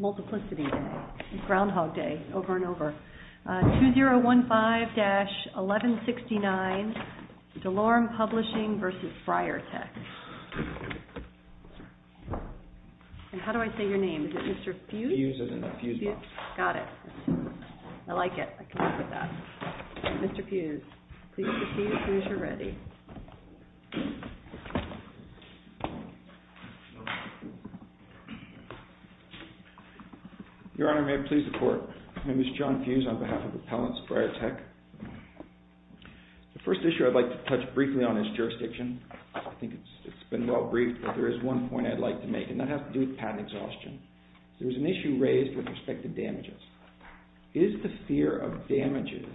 2015-1169 DeLorme Publishing v. BriarTek Your Honor, may it please the Court. My name is John Fuse on behalf of Appellants, BriarTek. The first issue I'd like to touch briefly on is jurisdiction. I think it's been well-briefed, but there is one point I'd like to make, and that has to do with patent exhaustion. There was an issue raised with respect to damages. Is the fear of damages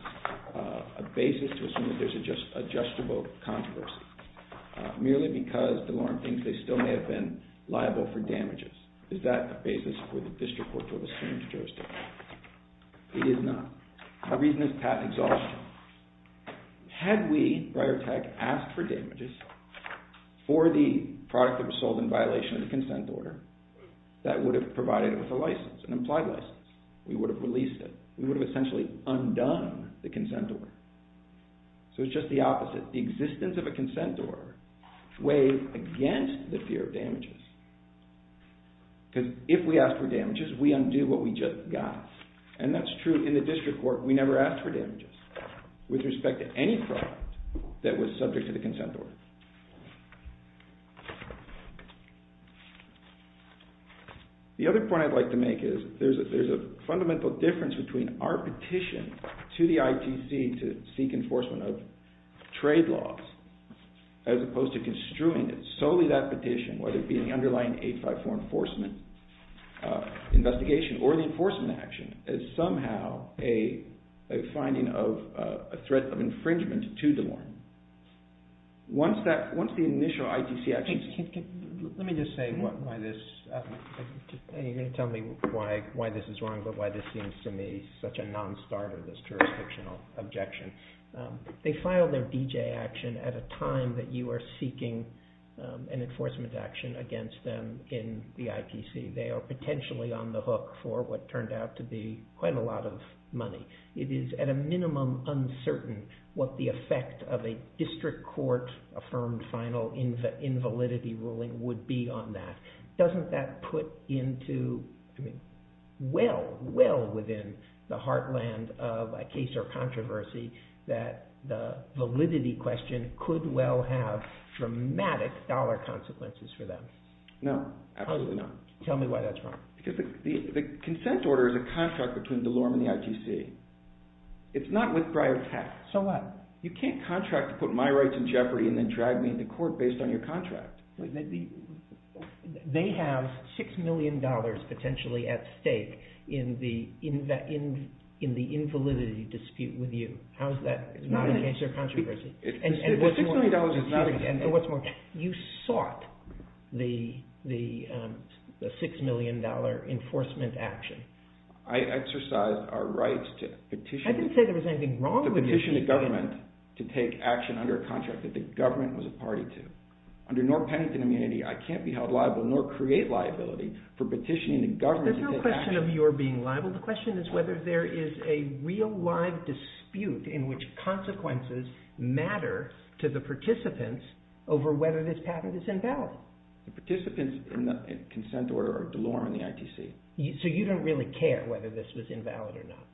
a basis to assume that there's a justifiable controversy, merely because DeLorme thinks they still may have been liable for damages? Is that a basis for the District Court to assume jurisdiction? It is not. The reason is patent exhaustion. Had we, BriarTek, asked for damages for the product that was sold in violation of the consent order, that would have provided it with a license, an implied license. We would have released it. We would have essentially undone the consent order. So it's just the opposite. The existence of a consent order weighs against the fear of damages, because if we ask for damages, we undo what we just got. And that's true in the District Court. We never asked for damages with respect to any product that was subject to the consent order. The other point I'd like to make is there's a fundamental difference between our petition to the ITC to seek enforcement of trade laws, as opposed to construing solely that petition, whether it be the underlying 854 enforcement investigation or the enforcement action, as somehow a finding of a threat of infringement to DeLorme. Let me just say, you're going to tell me why this is wrong, but why this seems to me such a non-starter, this jurisdictional objection. They file their D.J. action at a time that you are seeking an enforcement action against them in the ITC. They are potentially on the hook for what turned out to be quite a lot of money. It is at a minimum uncertain what the effect of a District Court-affirmed final invalidity ruling would be on that. Doesn't that put into, well, well within the heartland of a case or controversy that the validity question could well have dramatic dollar consequences for them? No, absolutely not. Tell me why that's wrong. Because the consent order is a contract between DeLorme and the ITC. It's not with Briar Tech. So what? You can't contract to put my rights in jeopardy and then drag me into court based on your contract. They have $6 million potentially at stake in the invalidity dispute with you. How is that not against their controversy? The $6 million is not against them. You sought the $6 million enforcement action. I exercised our rights to petition the government to take action under a contract that the government was a party to. Under North Pennington immunity, I can't be held liable nor create liability for petitioning the government to take action. There's no question of your being liable. The question is whether there is a real live dispute in which consequences matter to the participants over whether this patent is invalid. The participants in the consent order are DeLorme and the ITC. So you don't really care whether this was invalid or not.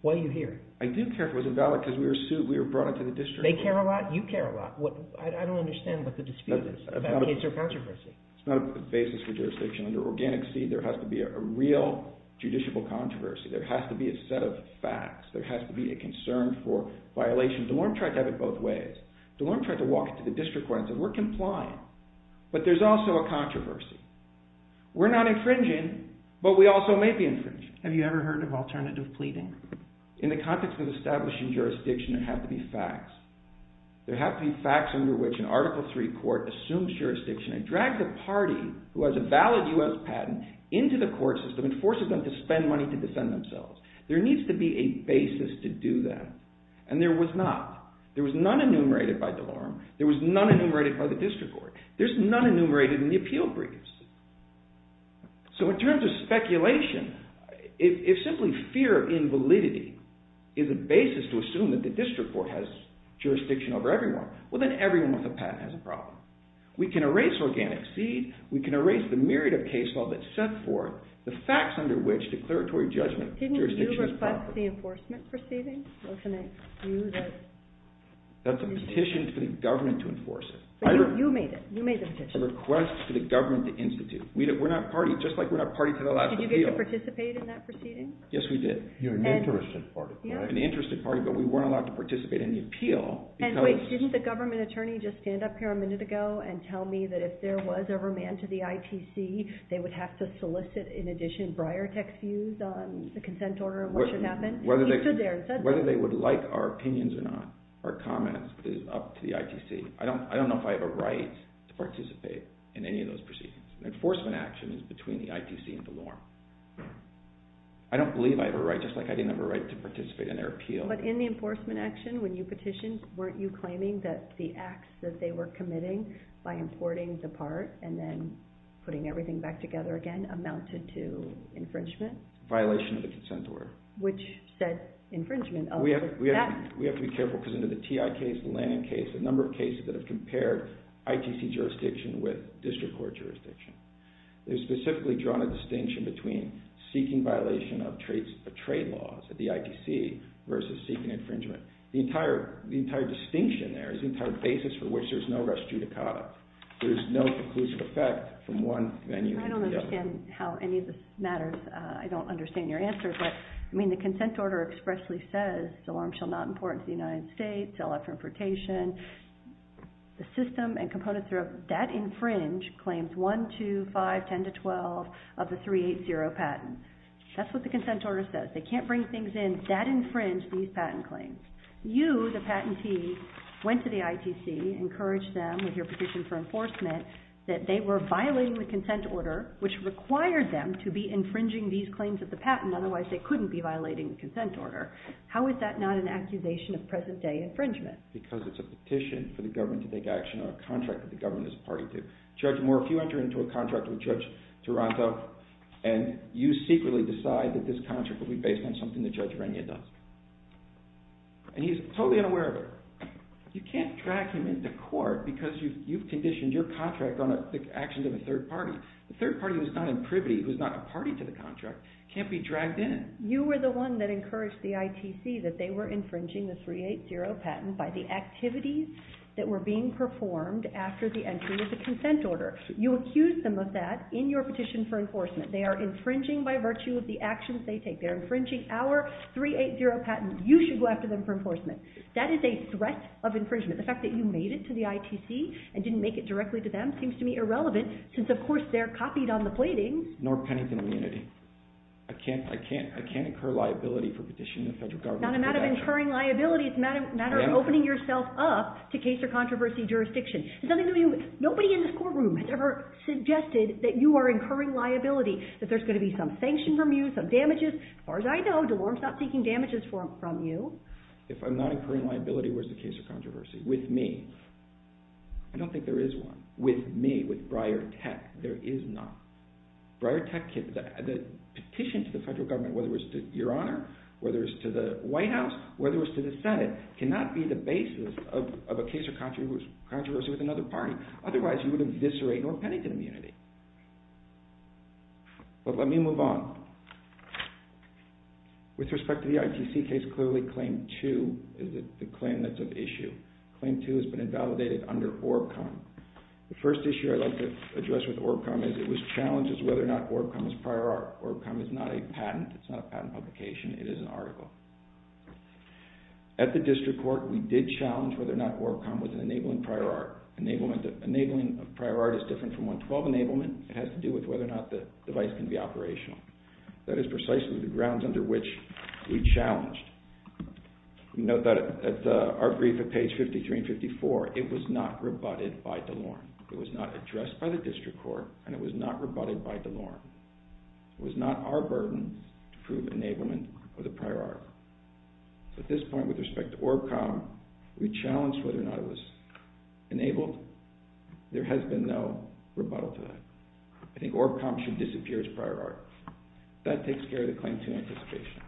Why are you here? I do care if it was invalid because we were brought into the district. They care a lot, you care a lot. I don't understand what the dispute is about case or controversy. It's not a basis for jurisdiction. Under organic seed, there has to be a real judicial controversy. There has to be a set of facts. There has to be a concern for violations. DeLorme tried to have it both ways. DeLorme tried to walk it to the district court and said we're complying. But there's also a controversy. We're not infringing, but we also may be infringing. Have you ever heard of alternative pleading? In the context of establishing jurisdiction, there have to be facts. There have to be facts under which an Article III court assumes jurisdiction and drags a party who has a valid U.S. patent into the court system and forces them to spend money to defend themselves. There needs to be a basis to do that, and there was not. There was none enumerated by DeLorme. There was none enumerated by the district court. There's none enumerated in the appeal briefs. So in terms of speculation, if simply fear of invalidity is a basis to assume that the district court has jurisdiction over everyone, well then everyone with a patent has a problem. We can erase organic seed. We can erase the myriad of case law that set forth the facts under which declaratory judgment jurisdiction is valid. Didn't you request the enforcement proceedings? Wasn't it you that… That's a petition to the government to enforce it. You made it. You made the petition. It's a request to the government to institute. We're not party. Just like we're not party to the last appeal. Did you get to participate in that proceeding? Yes, we did. You're an interested party, right? I was not allowed to participate in the appeal because… And wait. Didn't the government attorney just stand up here a minute ago and tell me that if there was a remand to the ITC, they would have to solicit, in addition, briar text views on the consent order and what should happen? He stood there and said that. Whether they would like our opinions or not, our comments, is up to the ITC. I don't know if I have a right to participate in any of those proceedings. Enforcement action is between the ITC and DeLorme. I don't believe I have a right, just like I didn't have a right to participate in their appeal. But in the enforcement action, when you petitioned, weren't you claiming that the acts that they were committing by importing the part and then putting everything back together again amounted to infringement? Violation of the consent order. Which said infringement. We have to be careful because under the TI case, the Lannan case, a number of cases that have compared ITC jurisdiction with district court jurisdiction. They've specifically drawn a distinction between seeking violation of trade laws at the ITC versus seeking infringement. The entire distinction there is the entire basis for which there's no rest due to cause. There's no conclusive effect from one venue to the other. I don't understand how any of this matters. I don't understand your answer, but the consent order expressly says, DeLorme shall not import into the United States, sell out for importation. The system and components that infringe claims 1, 2, 5, 10 to 12 of the 380 patents. That's what the consent order says. They can't bring things in that infringe these patent claims. You, the patentee, went to the ITC, encouraged them with your petition for enforcement that they were violating the consent order which required them to be infringing these claims of the patent. Otherwise, they couldn't be violating the consent order. How is that not an accusation of present-day infringement? Because it's a petition for the government to take action on a contract that the government is party to. Judge Moore, if you enter into a contract with Judge Taranto and you secretly decide that this contract will be based on something that Judge Rania does, and he's totally unaware of it, you can't drag him into court because you've conditioned your contract on the actions of a third party. The third party who's not in privity, who's not a party to the contract, can't be dragged in. You were the one that encouraged the ITC that they were infringing the 380 patent by the activities that were being performed after the entry of the consent order. You accused them of that in your petition for enforcement. They are infringing by virtue of the actions they take. They're infringing our 380 patent. You should go after them for enforcement. That is a threat of infringement. The fact that you made it to the ITC and didn't make it directly to them seems to me irrelevant since, of course, they're copied on the plating. Nor Pennington immunity. I can't incur liability for petitioning the federal government to take action. It's not a matter of incurring liability. It's a matter of opening yourself up to case or controversy jurisdiction. Nobody in this courtroom has ever suggested that you are incurring liability, that there's going to be some sanction from you, some damages. As far as I know, DeLorme's not seeking damages from you. If I'm not incurring liability, where's the case or controversy? With me. I don't think there is one. With me, with Breyer Tech, there is not. Breyer Tech, the petition to the federal government, whether it was to Your Honor, whether it was to the White House, whether it was to the Senate, cannot be the basis of a case or controversy with another party. Otherwise, you would eviscerate Nor Pennington immunity. But let me move on. With respect to the ITC case, clearly Claim 2 is the claim that's of issue. Claim 2 has been invalidated under ORBCOM. The first issue I'd like to address with ORBCOM is it challenges whether or not ORBCOM is prior art. ORBCOM is not a patent. It's not a patent publication. It is an article. At the district court, we did challenge whether or not ORBCOM was an enabling prior art. Enabling prior art is different from 112 enablement. It has to do with whether or not the device can be operational. That is precisely the grounds under which we challenged. Note that at our brief at page 53 and 54, it was not rebutted by DeLore. It was not addressed by the district court, and it was not rebutted by DeLore. It was not our burden to prove enablement of the prior art. At this point, with respect to ORBCOM, we challenged whether or not it was enabled. There has been no rebuttal to that. I think ORBCOM should disappear as prior art. That takes care of the Claim 2 anticipation.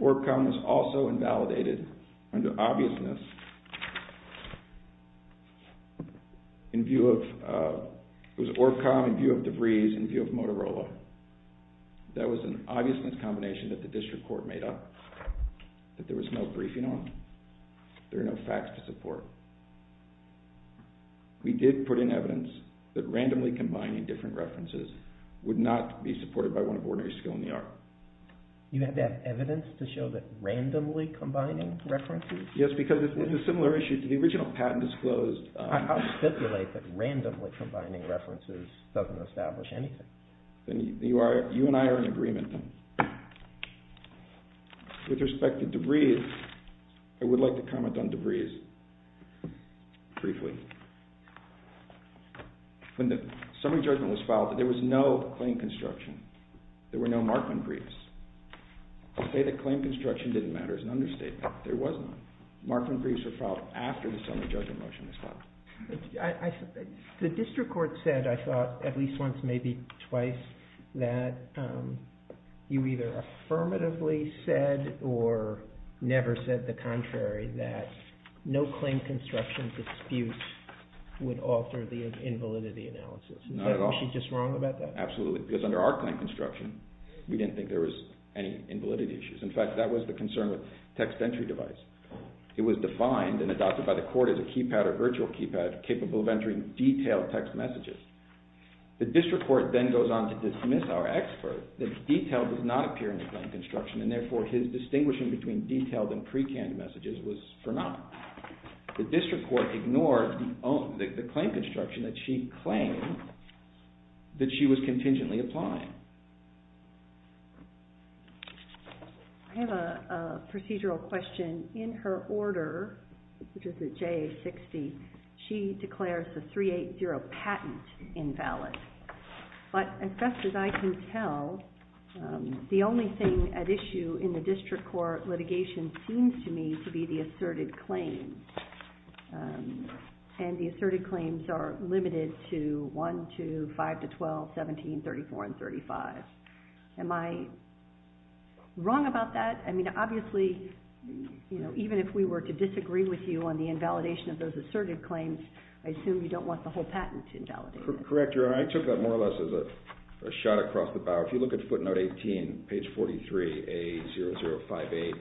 ORBCOM is also invalidated under obviousness It was ORBCOM in view of DeVries in view of Motorola. That was an obviousness combination that the district court made up that there was no briefing on. There are no facts to support. We did put in evidence that randomly combining different references would not be supported by one of ordinary skill in the art. You had to have evidence to show that randomly combining references? Yes, because it's a similar issue to the original patent disclosed How do you stipulate that randomly combining references doesn't establish anything? You and I are in agreement. With respect to DeVries, I would like to comment on DeVries briefly. When the summary judgment was filed, there was no claim construction. There were no Markman briefs. To say that claim construction didn't matter is an understatement. There was none. Markman briefs were filed after the summary judgment motion was filed. The district court said, I thought, at least once, maybe twice, that you either affirmatively said or never said the contrary, that no claim construction dispute would alter the invalidity analysis. Not at all. Was she just wrong about that? Absolutely, because under our claim construction, we didn't think there was any invalidity issues. In fact, that was the concern with text entry device. It was defined and adopted by the court as a keypad or virtual keypad capable of entering detailed text messages. The district court then goes on to dismiss our expert that detail does not appear in the claim construction and therefore his distinguishing between detailed and pre-canned messages was phenomenal. The district court ignored the claim construction that she claimed that she was contingently applying. I have a procedural question. In her order, which is at JA 60, she declares the 380 patent invalid. But as best as I can tell, the only thing at issue in the district court litigation seems to me to be the asserted claim. And the asserted claims are limited to 1, 2, 5 to 12, 17, 34 and 35. Am I wrong about that? I mean, obviously, even if we were to disagree with you on the invalidation of those asserted claims, I assume you don't want the whole patent invalidated. Correct, Your Honor. I took that more or less as a shot across the bow. If you look at footnote 18, page 43A0058,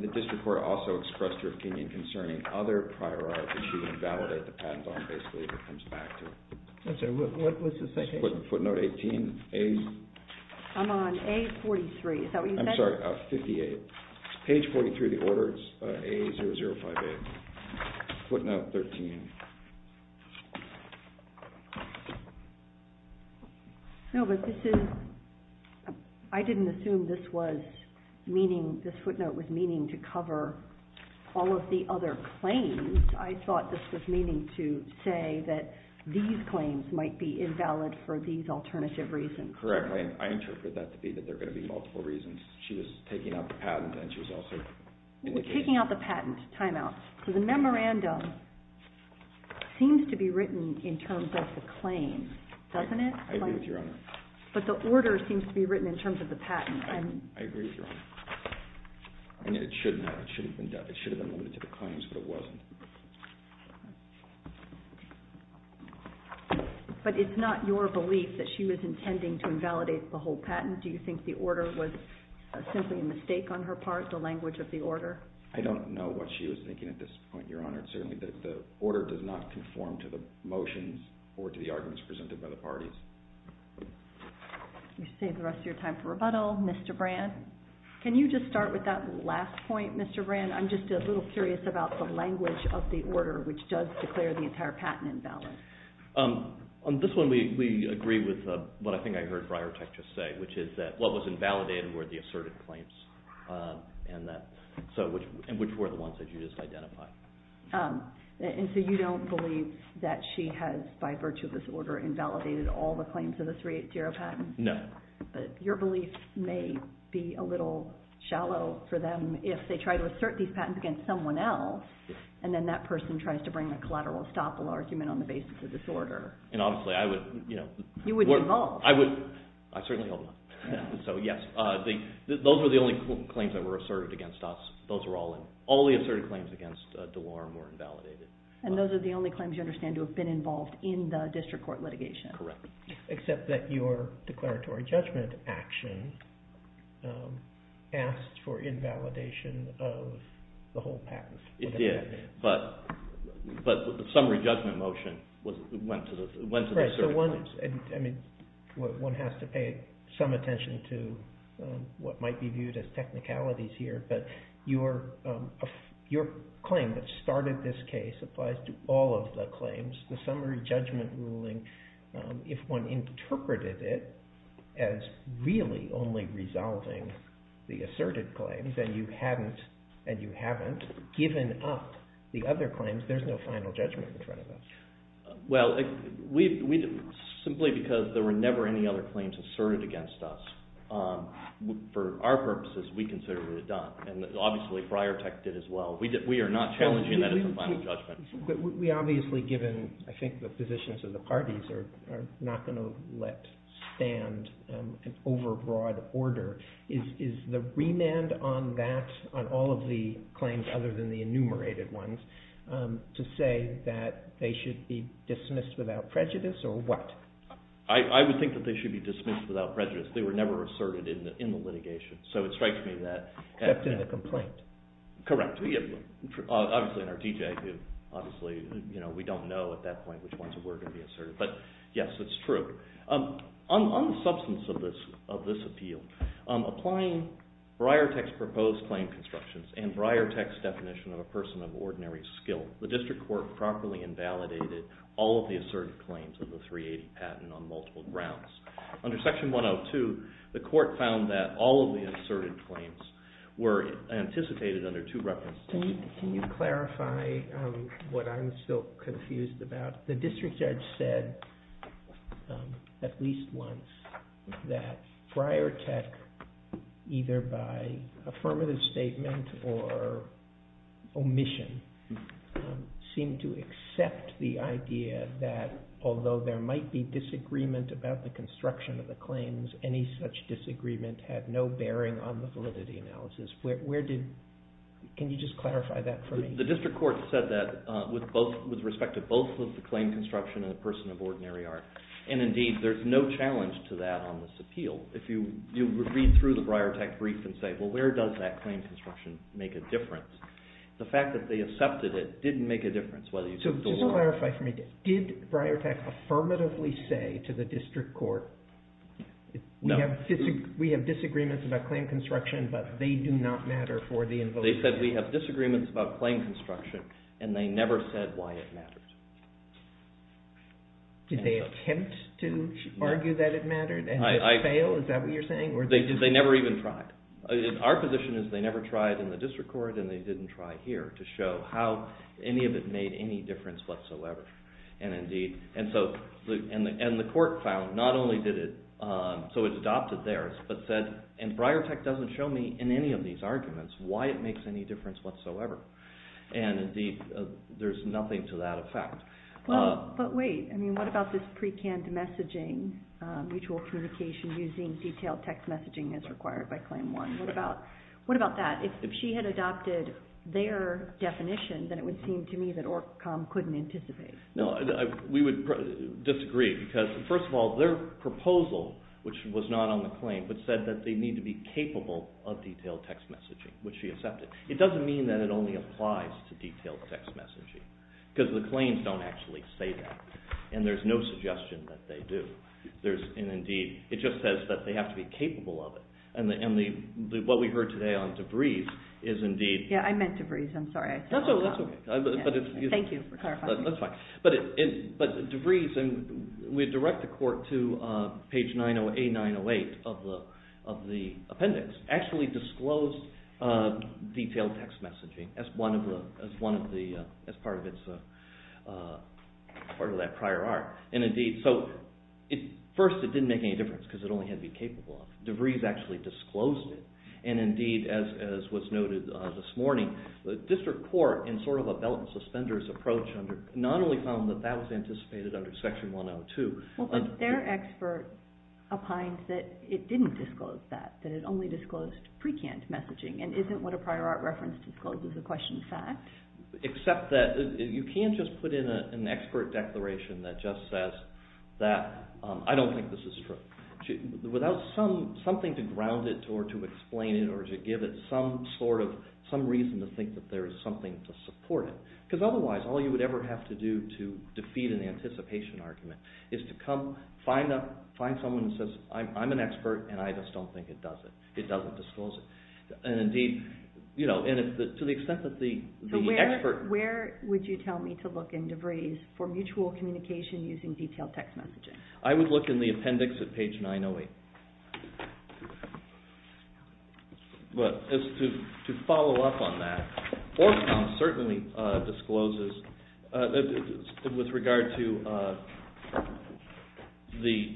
the district court also expressed her opinion concerning other prior art that she would invalidate the patent on basically if it comes back to her. What was the citation? Footnote 18? I'm on A43. Is that what you said? I'm sorry, 58. Page 43 of the order, it's A0058. Footnote 13. No, but this is – I didn't assume this was meaning – this footnote was meaning to cover all of the other claims. I thought this was meaning to say that these claims might be invalid for these alternative reasons. Correct. I interpreted that to be that there are going to be multiple reasons. She was taking out the patent and she was also – Taking out the patent, timeout. The memorandum seems to be written in terms of the claim, doesn't it? I agree with you, Your Honor. But the order seems to be written in terms of the patent. I agree with you, Your Honor. And it should have been limited to the claims, but it wasn't. But it's not your belief that she was intending to invalidate the whole patent? Do you think the order was simply a mistake on her part, the language of the order? I don't know what she was thinking at this point, Your Honor. Certainly, the order does not conform to the motions or to the arguments presented by the parties. We save the rest of your time for rebuttal. Mr. Brand, can you just start with that last point, Mr. Brand? I'm just a little curious about the language of the order, which does declare the entire patent invalid. On this one, we agree with what I think I heard Briartech just say, which is that what was invalidated were the asserted claims, and which were the ones that you just identified. And so you don't believe that she has, by virtue of this order, invalidated all the claims of the 380 patent? No. But your belief may be a little shallow for them if they try to assert these patents against someone else and then that person tries to bring a collateral estoppel argument on the basis of this order. And honestly, I would... You wouldn't involve. I certainly hope not. So yes, those were the only claims that were asserted against us. All the asserted claims against DeLorme were invalidated. And those are the only claims you understand to have been involved in the district court litigation. Correct. Except that your declaratory judgment action asked for invalidation of the whole patent. It did. But the summary judgment motion went to the asserted claims. I mean, one has to pay some attention to what might be viewed as technicalities here. But your claim that started this case applies to all of the claims. The summary judgment ruling, if one interpreted it as really only resolving the asserted claims and you haven't given up the other claims, there's no final judgment in front of that. Well, simply because there were never any other claims asserted against us, for our purposes, we considered it a done. And obviously, Friartech did as well. We are not challenging that as a final judgment. But we obviously, given, I think, the positions of the parties, are not going to let stand an overbroad order. Is the remand on that, on all of the claims other than the enumerated ones, to say that they should be dismissed without prejudice, or what? I would think that they should be dismissed without prejudice. They were never asserted in the litigation. So it strikes me that... Except in the complaint. Correct. Obviously, in our DJs, obviously, we don't know at that point which ones were going to be asserted. But yes, it's true. On the substance of this appeal, applying Friartech's proposed claim constructions and Friartech's definition of a person of ordinary skill, the district court properly invalidated all of the asserted claims of the 380 patent on multiple grounds. Under Section 102, the court found that all of the asserted claims were anticipated under two references. Can you clarify what I'm still confused about? The district judge said, at least once, that Friartech, either by affirmative statement or omission, seemed to accept the idea that, because any such disagreement had no bearing on the validity analysis. Can you just clarify that for me? The district court said that with respect to both of the claim construction and the person of ordinary art. Indeed, there's no challenge to that on this appeal. If you read through the Friartech brief and say, where does that claim construction make a difference? The fact that they accepted it didn't make a difference. Just to clarify for me, did Friartech affirmatively say to the district court, we have disagreements about claim construction, but they do not matter for the invocation? They said, we have disagreements about claim construction, and they never said why it mattered. Did they attempt to argue that it mattered and fail? Is that what you're saying? They never even tried. Our position is they never tried in the district court, and they didn't try here to show how any of it made any difference whatsoever. The court found not only did it, so it's adopted there, but said, and Friartech doesn't show me in any of these arguments why it makes any difference whatsoever. Indeed, there's nothing to that effect. But wait, what about this pre-canned messaging, mutual communication using detailed text messaging as required by claim one? What about that? If she had adopted their definition, then it would seem to me that ORC.com couldn't anticipate. We would disagree because, first of all, their proposal, which was not on the claim, said that they need to be capable of detailed text messaging, which she accepted. It doesn't mean that it only applies to detailed text messaging because the claims don't actually say that, and there's no suggestion that they do. Indeed, it just says that they have to be capable of it. And what we heard today on DeVries is indeed... Yeah, I meant DeVries. I'm sorry. That's okay. Thank you for clarifying. That's fine. But DeVries, and we direct the court to page 908-908 of the appendix, actually disclosed detailed text messaging as part of that prior art. And indeed, so first it didn't make any difference because it only had to be capable of it. DeVries actually disclosed it. And indeed, as was noted this morning, the district court, in sort of a belt and suspenders approach, not only found that that was anticipated under Section 102... Well, but their expert opines that it didn't disclose that, that it only disclosed precant messaging and isn't what a prior art reference discloses a question of fact. Except that you can't just put in an expert declaration that just says that I don't think this is true. Without something to ground it or to explain it or to give it some sort of, some reason to think that there is something to support it. Because otherwise, all you would ever have to do to defeat an anticipation argument is to come find someone who says, I'm an expert and I just don't think it does it. It doesn't disclose it. And indeed, to the extent that the expert... So where would you tell me to look in DeVries for mutual communication using detailed text messaging? I would look in the appendix at page 908. But to follow up on that, Ormstown certainly discloses, with regard to the...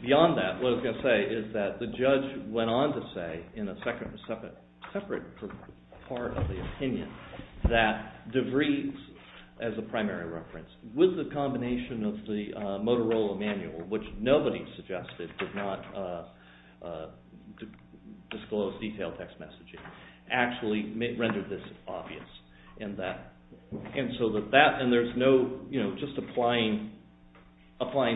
Beyond that, what I was going to say is that the judge went on to say, in a separate part of the opinion, that DeVries, as a primary reference, with the combination of the Motorola manual, which nobody suggested, did not disclose detailed text messaging, actually rendered this obvious. And there's no... Just applying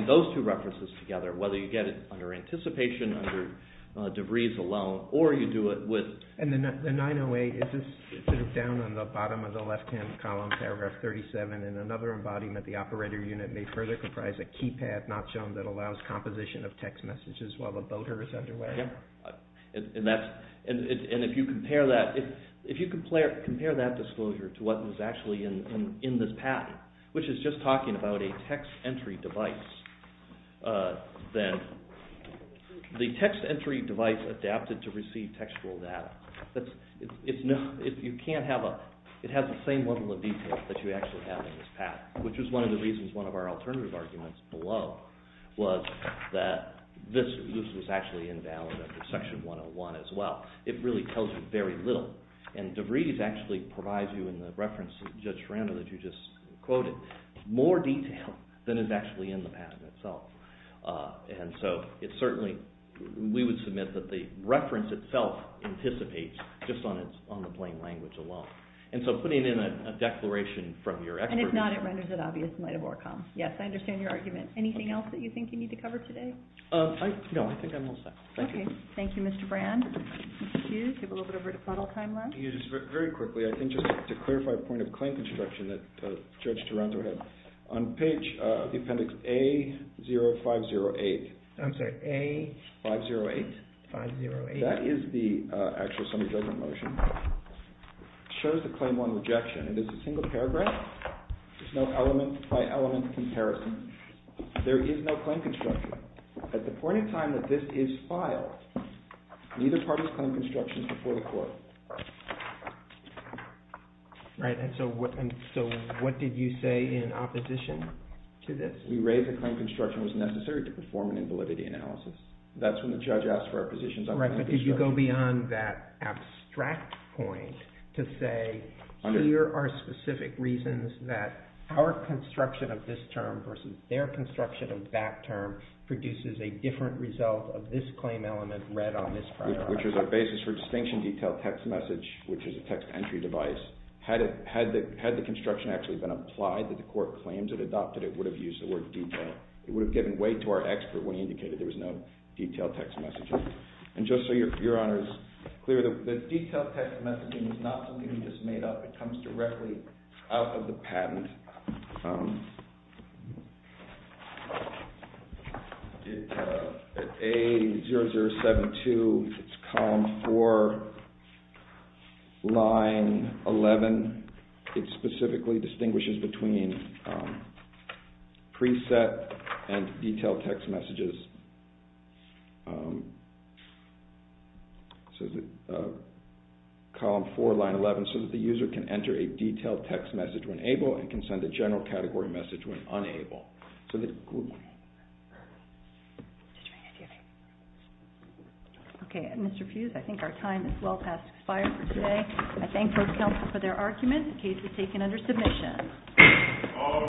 those two references together, whether you get it under anticipation, under DeVries alone, or you do it with... In the bottom of the left-hand column, paragraph 37, in another embodiment, the operator unit may further comprise a keypad, not shown, that allows composition of text messages while the voter is underway. And if you compare that... If you compare that disclosure to what was actually in this patent, which is just talking about a text entry device, then the text entry device adapted to receive textual data. You can't have a... It has the same level of detail that you actually have in this patent, which is one of the reasons one of our alternative arguments below was that this was actually invalid under Section 101 as well. It really tells you very little. And DeVries actually provides you in the reference that you just quoted more detail than is actually in the patent itself. And so it certainly... We would submit that the reference itself anticipates just on the plain language alone. And so putting in a declaration from your expert... And if not, it renders it obvious in light of ORCOM. Yes, I understand your argument. Anything else that you think you need to cover today? No, I think I'm all set. Thank you. Thank you, Mr. Brand. Thank you. We have a little bit of a rebuttal time left. Very quickly, I think just to clarify a point of claim construction that Judge Taranto had. On page... The appendix A0508. I'm sorry, A... 508. 508. That is the actual summary judgment motion. It shows the claim on rejection. It is a single paragraph. There's no element-by-element comparison. There is no claim construction. At the point in time that this is filed, neither party's claim construction is before the court. Right, and so what did you say in opposition to this? We raised that claim construction was necessary to perform an invalidity analysis. That's when the judge asked for a position... Right, but did you go beyond that abstract point to say here are specific reasons that our construction of this term versus their construction of that term produces a different result of this claim element read on this paragraph? Which is a basis for distinction detail text message, which is a text entry device. Had the construction actually been applied that the court claims it adopted, it would have used the word detail. It would have given way to our expert when he indicated there was no And just so Your Honor is clear, the detail text messaging is not something we just made up. It comes directly out of the patent. At A0072, it's column 4, line 11. It specifically distinguishes between preset and detail text messages. It says column 4, line 11, so that the user can enter a detailed text message when able and can send a general category message when unable. Okay, Mr. Fuse, I think our time is well past expired for today. I thank both counts for their arguments. The case is taken under submission.